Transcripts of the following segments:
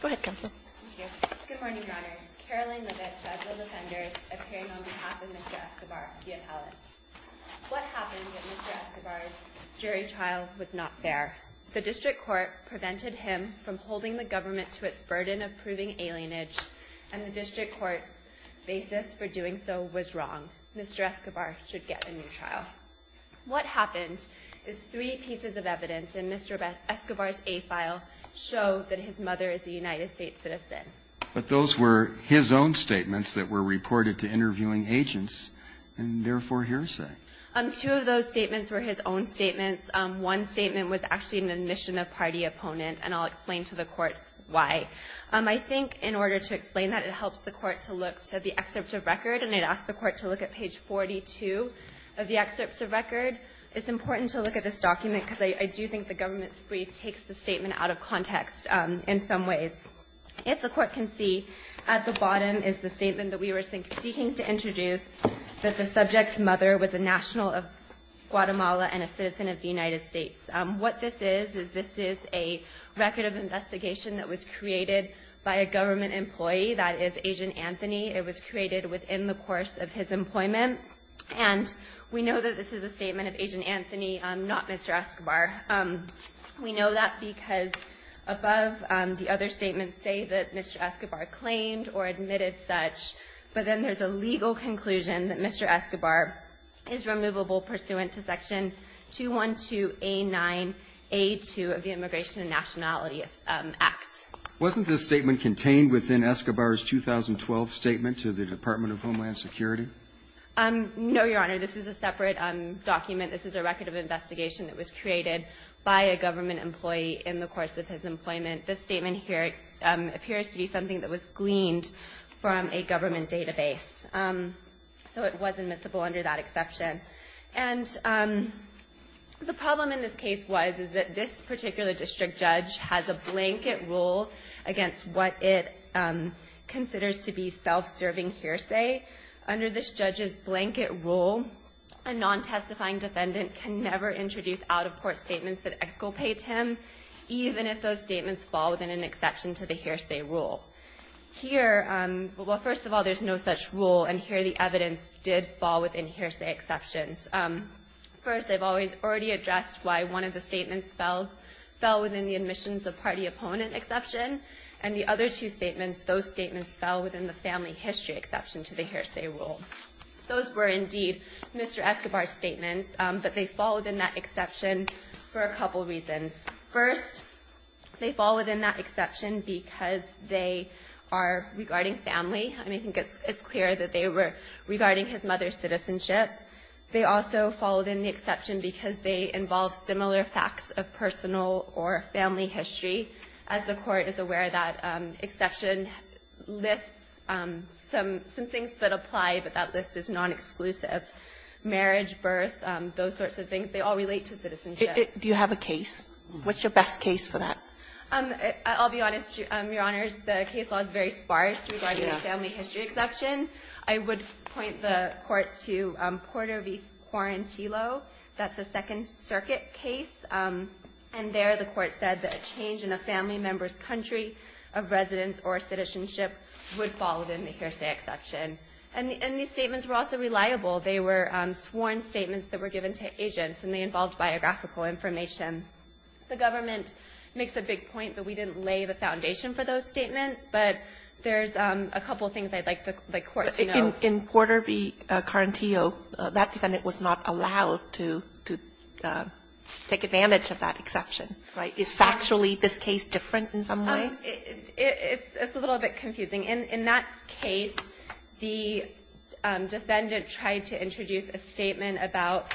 Go ahead, Counsel. Thank you. Good morning, Your Honors. Caroline Libet, Federal Defenders, appearing on behalf of Mr. Escobar, the appellant. What happened at Mr. Escobar's jury trial was not fair. The district court prevented him from holding the government to its burden of proving alienage, and the district court's basis for doing so was wrong. Mr. Escobar should get a new trial. What happened is three pieces of evidence in Mr. Escobar's A file show that his mother is a United States citizen. But those were his own statements that were reported to interviewing agents, and therefore hearsay. Two of those statements were his own statements. One statement was actually an admission of party opponent, and I'll explain to the courts why. I think in order to explain that, it helps the Court to look to the excerpt of record, and I'd ask the Court to look at page 42 of the excerpt of record. It's important to look at this document because I do think the government's brief takes the statement out of context in some ways. If the Court can see, at the bottom is the statement that we were seeking to introduce, that the subject's mother was a national of Guatemala and a citizen of the United States. What this is is this is a record of investigation that was created by a government employee. That is Agent Anthony. It was created within the course of his employment. And we know that this is a statement of Agent Anthony, not Mr. Escobar. We know that because above, the other statements say that Mr. Escobar claimed or admitted such, but then there's a legal conclusion that Mr. Escobar is removable pursuant to Section 212A9A2 of the Immigration and Nationality Act. Wasn't this statement contained within Escobar's 2012 statement to the Department of Homeland Security? No, Your Honor. This is a separate document. This is a record of investigation that was created by a government employee in the course of his employment. This statement here appears to be something that was gleaned from a government database. So it was admissible under that exception. And the problem in this case was, is that this particular district judge has a blanket rule against what it considers to be self-serving hearsay. Under this judge's blanket rule, a non-testifying defendant can never introduce out-of-court statements that exculpate him, even if those statements fall within an exception to the hearsay rule. Here, well, first of all, there's no such rule. And here the evidence did fall within hearsay exceptions. First, I've already addressed why one of the statements fell within the admissions of party opponent exception. And the other two statements, those statements fell within the family history exception to the hearsay rule. Those were indeed Mr. Escobar's statements, but they fall within that exception for a couple reasons. First, they fall within that exception because they are regarding family. I mean, I think it's clear that they were regarding his mother's citizenship. They also fall within the exception because they involve similar facts of personal or family history. As the Court is aware, that exception lists some things that apply, but that list is non-exclusive, marriage, birth, those sorts of things. They all relate to citizenship. Kagan. Do you have a case? What's your best case for that? I'll be honest, Your Honors. The case law is very sparse regarding the family history exception. I would point the Court to Porter v. Quarantillo. That's a Second Circuit case. And there the Court said that a change in a family member's country of residence or citizenship would fall within the hearsay exception. And these statements were also reliable. They were sworn statements that were given to agents, and they involved biographical information. The government makes a big point that we didn't lay the foundation for those statements, but there's a couple things I'd like the Court to know. In Porter v. Quarantillo, that defendant was not allowed to take advantage of that exception. Right. Is factually this case different in some way? It's a little bit confusing. In that case, the defendant tried to introduce a statement about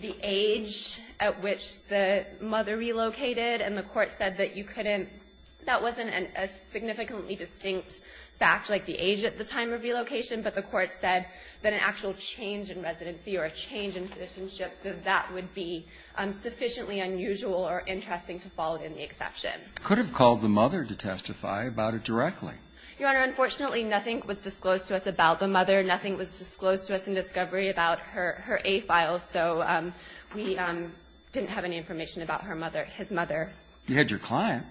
the age at which the mother relocated, and the Court said that you couldn't – that wasn't a significantly distinct fact, like the age at the time of relocation, but the Court said that an actual change in residency or a change in citizenship, that that would be sufficiently unusual or interesting to fall within the exception. You could have called the mother to testify about it directly. Your Honor, unfortunately, nothing was disclosed to us about the mother. Nothing was disclosed to us in discovery about her A files, so we didn't have any information about her mother – his mother. You had your client.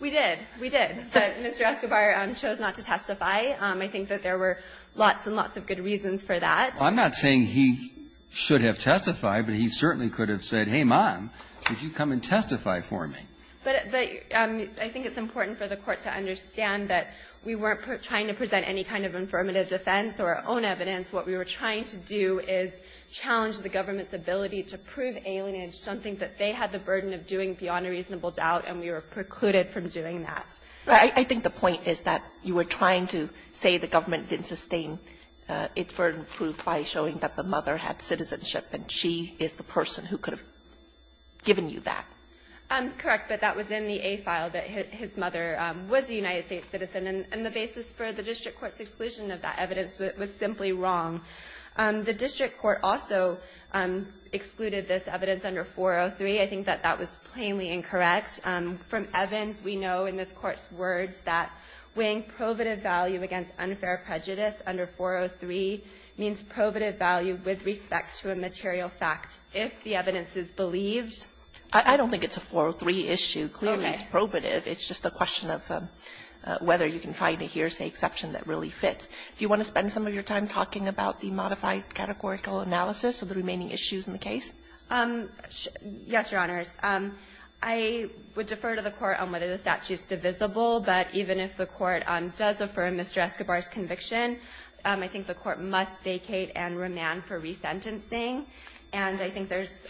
We did. We did. But Mr. Escobar chose not to testify. I think that there were lots and lots of good reasons for that. Well, I'm not saying he should have testified, but he certainly could have said, hey, Mom, could you come and testify for me? But I think it's important for the Court to understand that we weren't trying to present any kind of affirmative defense or our own evidence. What we were trying to do is challenge the government's ability to prove alienage, something that they had the burden of doing beyond a reasonable doubt, and we were precluded from doing that. But I think the point is that you were trying to say the government didn't sustain its burden proved by showing that the mother had citizenship and she is the person who could have given you that. Correct. But that was in the A file that his mother was a United States citizen, and the basis for the district court's exclusion of that evidence was simply wrong. The district court also excluded this evidence under 403. I think that that was plainly incorrect. From Evans, we know in this Court's words that weighing probative value against unfair prejudice under 403 means probative value with respect to a material fact if the evidence is believed. I don't think it's a 403 issue. Clearly, it's probative. It's just a question of whether you can find a hearsay exception that really fits. Do you want to spend some of your time talking about the modified categorical analysis of the remaining issues in the case? Yes, Your Honors. I would defer to the Court on whether the statute's divisible, but even if the Court does affirm Mr. Escobar's conviction, I think the Court must vacate and remand for resentencing. And I think there's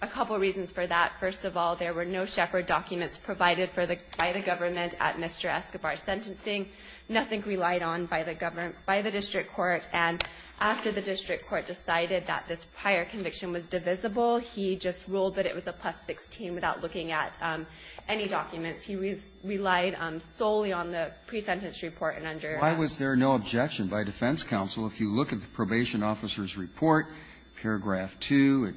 a couple reasons for that. First of all, there were no Shepherd documents provided by the government at Mr. Escobar's sentencing, nothing relied on by the district court. And after the district court decided that this prior conviction was divisible, he just ruled that it was a plus-16 without looking at any documents. He relied solely on the pre-sentence report and under that. Why was there no objection by defense counsel? If you look at the probation officer's report, paragraph 2,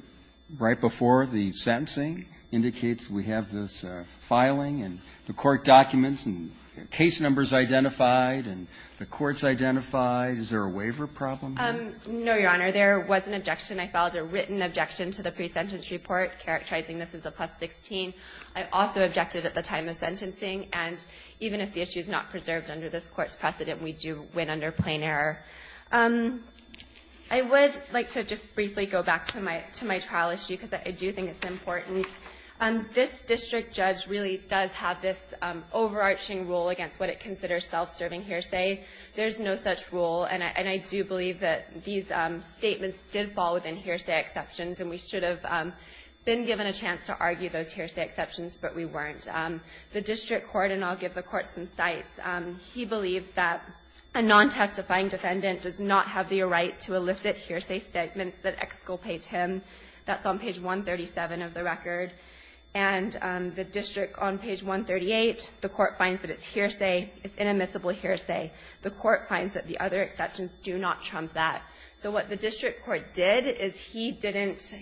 right before the sentencing indicates we have this filing and the court documents and case numbers identified and the courts identified, is there a waiver problem? No, Your Honor. There was an objection. I filed a written objection to the pre-sentence report characterizing this as a plus-16. I also objected at the time of sentencing. And even if the issue is not preserved under this Court's precedent, we do win under plain error. I would like to just briefly go back to my trial issue because I do think it's important. This district judge really does have this overarching rule against what it considers self-serving hearsay. There's no such rule. And I do believe that these statements did fall within hearsay exceptions, and we should have been given a chance to argue those hearsay exceptions, but we weren't. The district court, and I'll give the Court some sites, he believes that a non-testifying defendant does not have the right to elicit hearsay statements that exculpate That's on page 137 of the record. And the district on page 138, the Court finds that it's hearsay. It's inadmissible hearsay. The Court finds that the other exceptions do not trump that. So what the district court did is he didn't,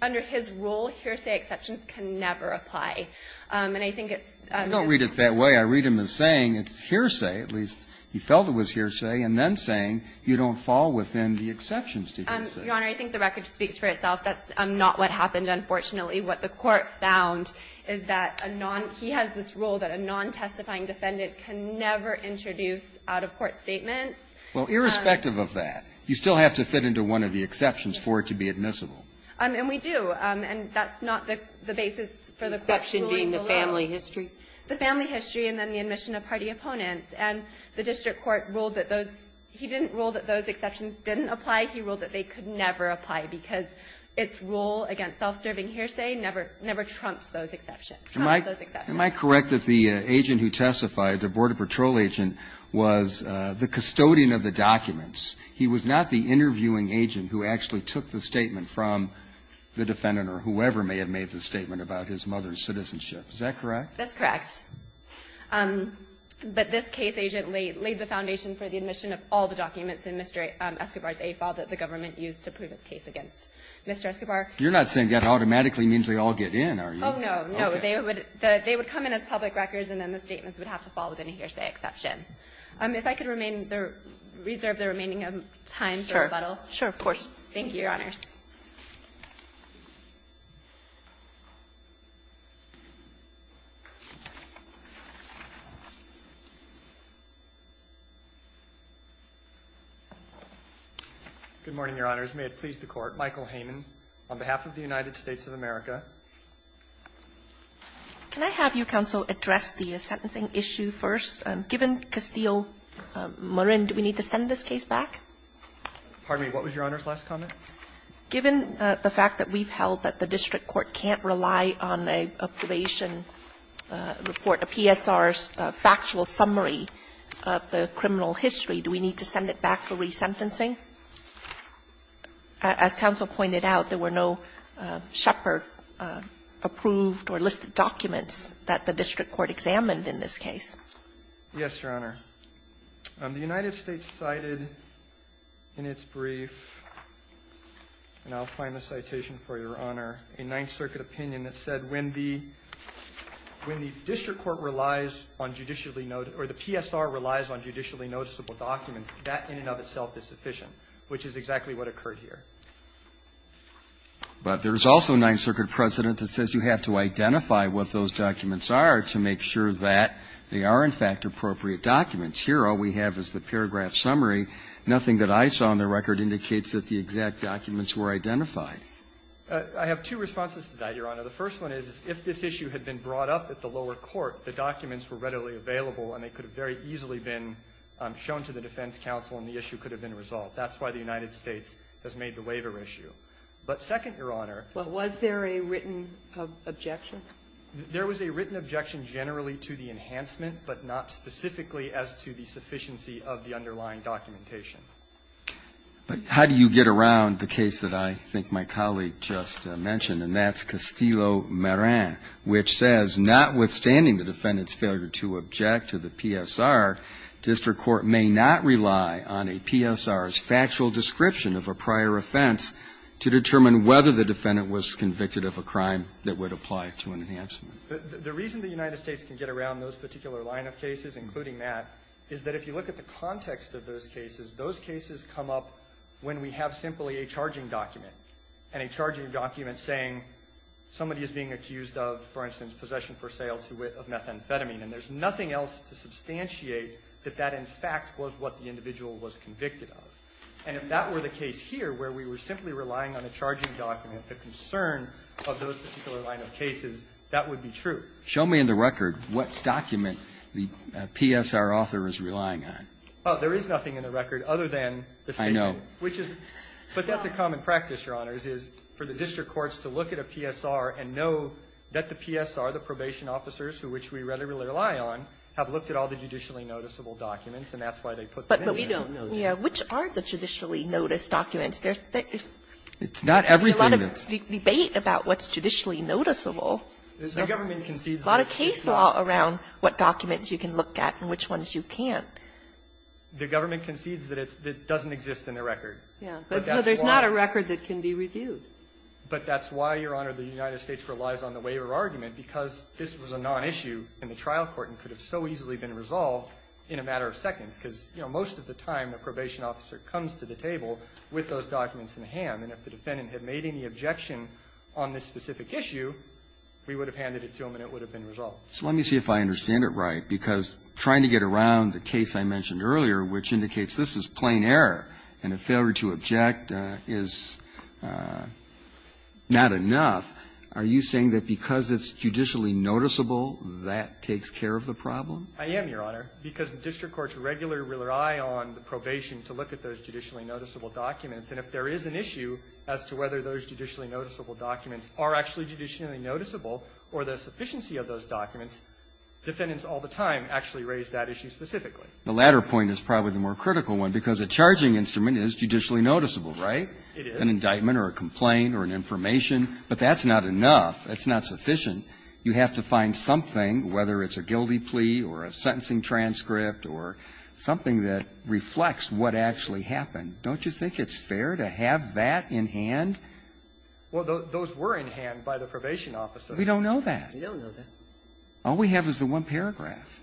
under his rule, hearsay exceptions can never apply. And I think it's I don't read it that way. I read him as saying it's hearsay, at least he felt it was hearsay, and then saying you don't fall within the exceptions. Your Honor, I think the record speaks for itself. That's not what happened, unfortunately. What the Court found is that a non he has this rule that a non-testifying defendant can never introduce out-of-court statements. Well, irrespective of that, you still have to fit into one of the exceptions for it to be admissible. And we do. And that's not the basis for the Court's ruling below. The exception being the family history? The family history and then the admission of party opponents. And the district court ruled that those he didn't rule that those exceptions didn't apply. He ruled that they could never apply because its rule against self-serving hearsay never trumps those exceptions. Am I correct that the agent who testified, the Border Patrol agent, was the custodian of the documents? He was not the interviewing agent who actually took the statement from the defendant or whoever may have made the statement about his mother's citizenship. Is that correct? That's correct. But this case agent laid the foundation for the admission of all the documents in Mr. Escobar's AFAL that the government used to prove its case against Mr. Escobar. You're not saying that automatically means they all get in, are you? Oh, no. No. They would come in as public records, and then the statements would have to fall within a hearsay exception. If I could remain there, reserve the remaining time for rebuttal. Sure. Sure. Of course. Thank you, Your Honors. Good morning, Your Honors. May it please the Court. Michael Hayman on behalf of the United States of America. Can I have your counsel address the sentencing issue first? Given Castillo-Marin, do we need to send this case back? Pardon me. What was Your Honor's last comment? Given the fact that we've held that the district court can't rely on a probation report, a PSR's factual summary of the criminal history, do we need to send it back for resentencing? As counsel pointed out, there were no Shepard-approved or listed documents that the district court examined in this case. Yes, Your Honor. The United States cited in its brief, and I'll find the citation for Your Honor, a Ninth Circuit opinion that said when the district court relies on judicially or the PSR relies on judicially noticeable documents, that in and of itself is sufficient, which is exactly what occurred here. But there's also a Ninth Circuit precedent that says you have to identify what those exact documents. Here, all we have is the paragraph summary. Nothing that I saw in the record indicates that the exact documents were identified. I have two responses to that, Your Honor. The first one is if this issue had been brought up at the lower court, the documents were readily available and they could have very easily been shown to the defense counsel and the issue could have been resolved. That's why the United States has made the waiver issue. But second, Your Honor. Well, was there a written objection? There was a written objection generally to the enhancement, but not specifically as to the sufficiency of the underlying documentation. But how do you get around the case that I think my colleague just mentioned, and that's Castillo-Marin, which says notwithstanding the defendant's failure to object to the PSR, district court may not rely on a PSR's factual description of a prior offense to determine whether the defendant was convicted of a crime that would apply to an enhancement? The reason the United States can get around those particular line of cases, including that, is that if you look at the context of those cases, those cases come up when we have simply a charging document, and a charging document saying somebody is being accused of, for instance, possession for sale of methamphetamine, and there's nothing else to substantiate that that, in fact, was what the individual was convicted of. And if that were the case here, where we were simply relying on a charging document, the concern of those particular line of cases, that would be true. Show me in the record what document the PSR author is relying on. Oh, there is nothing in the record other than the statement. I know. Which is, but that's a common practice, Your Honors, is for the district courts to look at a PSR and know that the PSR, the probation officers, who which we readily rely on, have looked at all the judicially noticeable documents, and that's why they put them in. But we don't. Yeah. Which are the judicially noticed documents? There's a lot of debate about what's judicially noticeable. A lot of case law around what documents you can look at and which ones you can't. The government concedes that it doesn't exist in the record. But that's why. But there's not a record that can be reviewed. But that's why, Your Honor, the United States relies on the waiver argument, because this was a nonissue in the trial court and could have so easily been resolved in a matter of seconds, because, you know, most of the time a probation officer comes to the table with those documents in hand, and if the defendant had made any objection on this specific issue, we would have handed it to him and it would have been resolved. So let me see if I understand it right, because trying to get around the case I mentioned earlier, which indicates this is plain error and a failure to object is not enough, are you saying that because it's judicially noticeable, that takes care of the problem? I am, Your Honor, because the district courts regularly rely on the probation to look at those judicially noticeable documents. And if there is an issue as to whether those judicially noticeable documents are actually judicially noticeable or the sufficiency of those documents, defendants all the time actually raise that issue specifically. The latter point is probably the more critical one, because a charging instrument is judicially noticeable, right? It is. An indictment or a complaint or an information. But that's not enough. That's not sufficient. You have to find something, whether it's a guilty plea or a sentencing transcript or something that reflects what actually happened. Don't you think it's fair to have that in hand? Well, those were in hand by the probation officer. We don't know that. We don't know that. All we have is the one paragraph.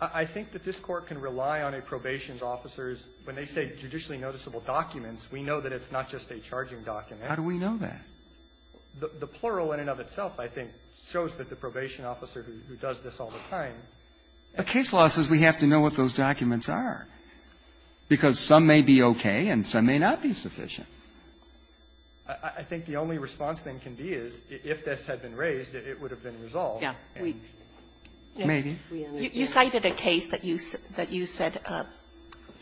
I think that this Court can rely on a probation's officers when they say judicially noticeable documents. We know that it's not just a charging document. How do we know that? The plural in and of itself, I think, shows that the probation officer who does this all the time. But case law says we have to know what those documents are, because some may be okay and some may not be sufficient. I think the only response thing can be is if this had been raised, it would have been resolved. Yeah. We can say that. Maybe. You cited a case that you said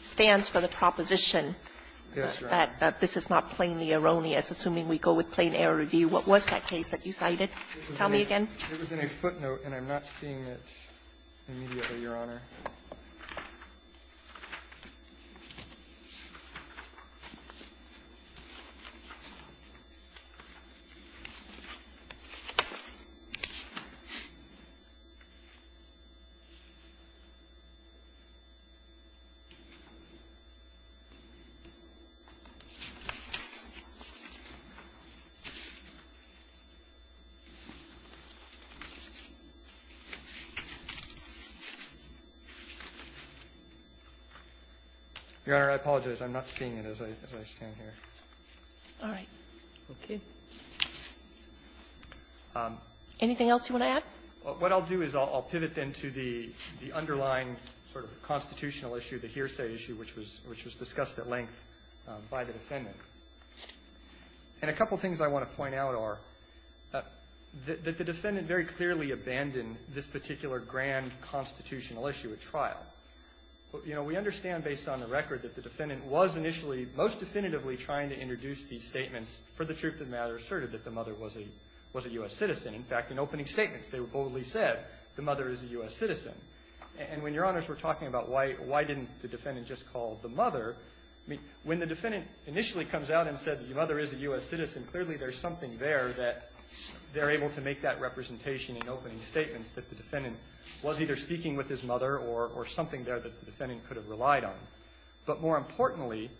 stands for the proposition that this is not plainly erroneous, assuming we go with plain error review. What was that case that you cited? Tell me again. It was in a footnote, and I'm not seeing it immediately, Your Honor. Your Honor, I apologize. I'm not seeing it as I stand here. All right. Okay. Anything else you want to add? What I'll do is I'll pivot then to the underlying sort of constitutional issue, the hearsay issue, which was discussed at length by the defendant. And a couple things I want to point out are that the defendant very clearly abandoned this particular grand constitutional issue at trial. You know, we understand based on the record that the defendant was initially most definitively trying to introduce these statements for the truth of the matter asserted that the mother was a U.S. citizen. In fact, in opening statements, they boldly said the mother is a U.S. citizen. And when Your Honors were talking about why didn't the defendant just call the mother, when the defendant initially comes out and said the mother is a U.S. citizen, clearly there's something there that they're able to make that representation in opening statements that the defendant was either speaking with his mother or something there that the defendant could have relied on. But more importantly,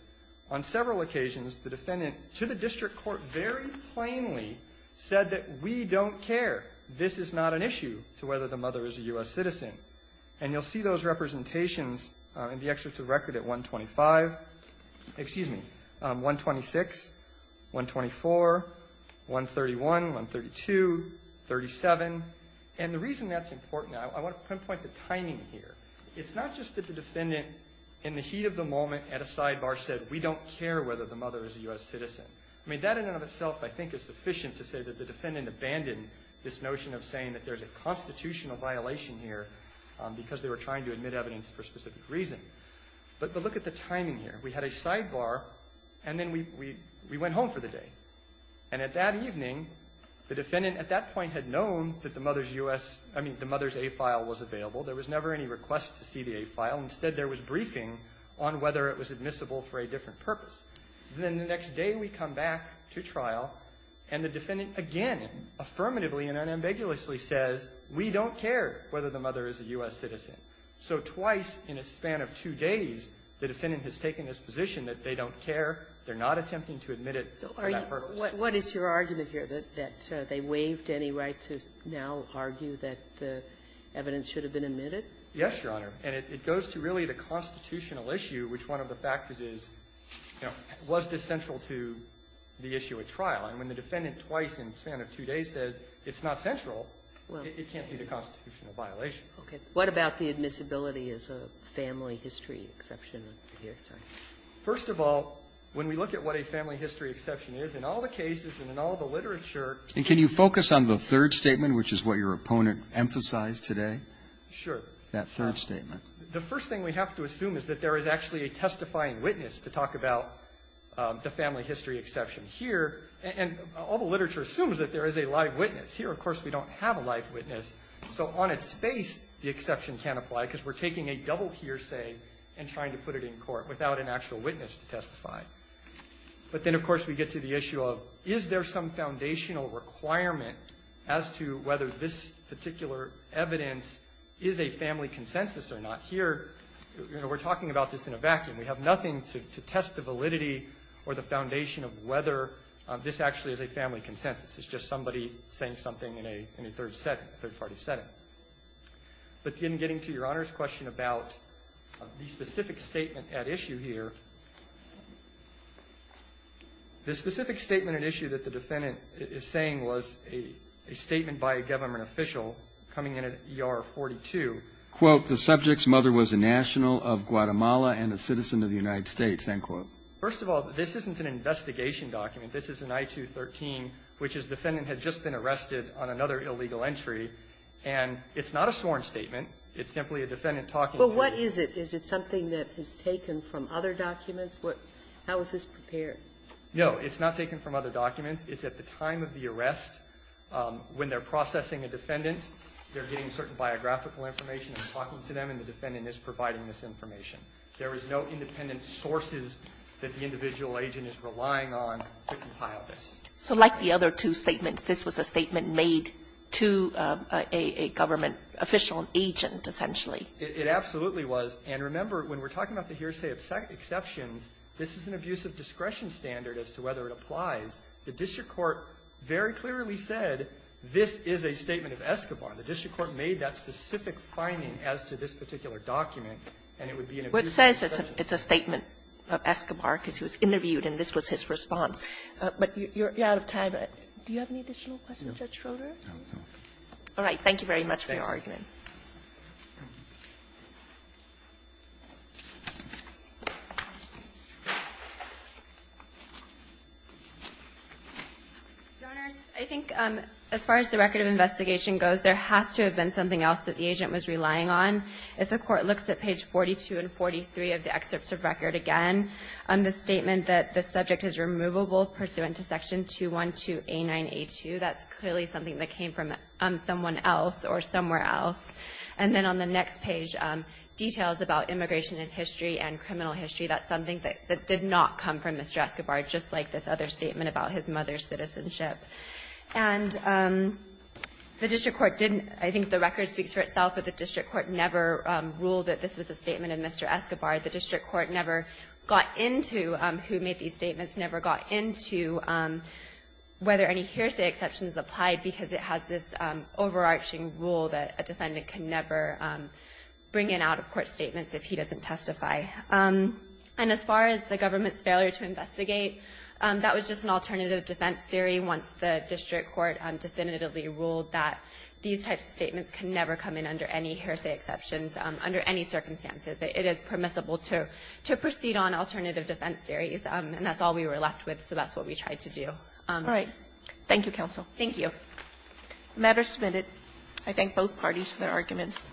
on several occasions, the defendant to the district court very plainly said that we don't care. This is not an issue to whether the mother is a U.S. citizen. And you'll see those representations in the excerpts of the record at 125. Excuse me, 126, 124, 131, 132, 37. And the reason that's important, I want to pinpoint the timing here. It's not just that the defendant in the heat of the moment at a sidebar said, we don't care whether the mother is a U.S. citizen. I mean, that in and of itself I think is sufficient to say that the defendant abandoned this notion of saying that there's a constitutional violation here because they were trying to admit evidence for a specific reason. But look at the timing here. We had a sidebar, and then we went home for the day. And at that evening, the defendant at that point had known that the mother's U.S. – I mean, the mother's A file was available. There was never any request to see the A file. Instead, there was briefing on whether it was admissible for a different purpose. Then the next day, we come back to trial, and the defendant again affirmatively and unambiguously says, we don't care whether the mother is a U.S. citizen. So twice in a span of two days, the defendant has taken this position that they don't care, they're not attempting to admit it for that purpose. What is your argument here, that they waived any right to now argue that the evidence should have been admitted? Yes, Your Honor. And it goes to really the constitutional issue, which one of the factors is, you know, was this central to the issue at trial? And when the defendant twice in a span of two days says it's not central, it can't be the constitutional violation. Okay. What about the admissibility as a family history exception here? First of all, when we look at what a family history exception is, in all the cases and in all the literature… And can you focus on the third statement, which is what your opponent emphasized today? Sure. That third statement. The first thing we have to assume is that there is actually a testifying witness to talk about the family history exception here, and all the literature assumes that there is a live witness. Here, of course, we don't have a live witness. So on its face, the exception can't apply because we're taking a double hearsay and trying to put it in court without an actual witness to testify. But then, of course, we get to the issue of, is there some foundational requirement as to whether this particular evidence is a family consensus or not? Here, you know, we're talking about this in a vacuum. We have nothing to test the validity or the foundation of whether this actually is a family consensus. It's just somebody saying something in a third-party setting. But in getting to Your Honor's question about the specific statement at issue here, the specific statement at issue that the defendant is saying was a statement by a government official coming in at ER 42, quote, the subject's mother was a national of Guatemala and a citizen of the United States, end quote. First of all, this isn't an investigation document. This is an I-213, which is defendant had just been arrested on another illegal entry, and it's not a sworn statement. It's simply a defendant talking to you. But what is it? Is it something that is taken from other documents? How is this prepared? No, it's not taken from other documents. It's at the time of the arrest. When they're processing a defendant, they're getting certain biographical information and talking to them, and the defendant is providing this information. There is no independent sources that the individual agent is relying on to compile this. So like the other two statements, this was a statement made to a government official and agent, essentially. It absolutely was. And remember, when we're talking about the hearsay of exceptions, this is an abuse of discretion standard as to whether it applies. The district court very clearly said this is a statement of Escobar. The district court made that specific finding as to this particular document, and it would be an abuse of discretion. Well, it says it's a statement of Escobar because he was interviewed and this was his response. But you're out of time. Do you have any additional questions, Judge Schroeder? No. Thank you very much for your argument. Your Honor, I think as far as the record of investigation goes, there has to have been something else that the agent was relying on. If the Court looks at page 42 and 43 of the excerpts of record again, the statement that the subject is removable pursuant to Section 212A9A2, that's clearly something that came from someone else or somewhere else. And then on the next page, details about immigration and history and criminal history, that's something that did not come from Mr. Escobar, just like this other statement about his mother's citizenship. And the district court didn't – I think the record speaks for itself, but the district court never ruled that this was a statement of Mr. Escobar. The district court never got into who made these statements, never got into whether any hearsay exceptions applied, because it has this overarching rule that a defendant can never bring in out-of-court statements if he doesn't testify. And as far as the government's failure to investigate, that was just an alternative defense theory once the district court definitively ruled that these types of statements can never come in under any hearsay exceptions under any circumstances. It is permissible to proceed on alternative defense theories, and that's all we were asked to do. Kagan. Thank you, counsel. Thank you. The matter is submitted. I thank both parties for their arguments.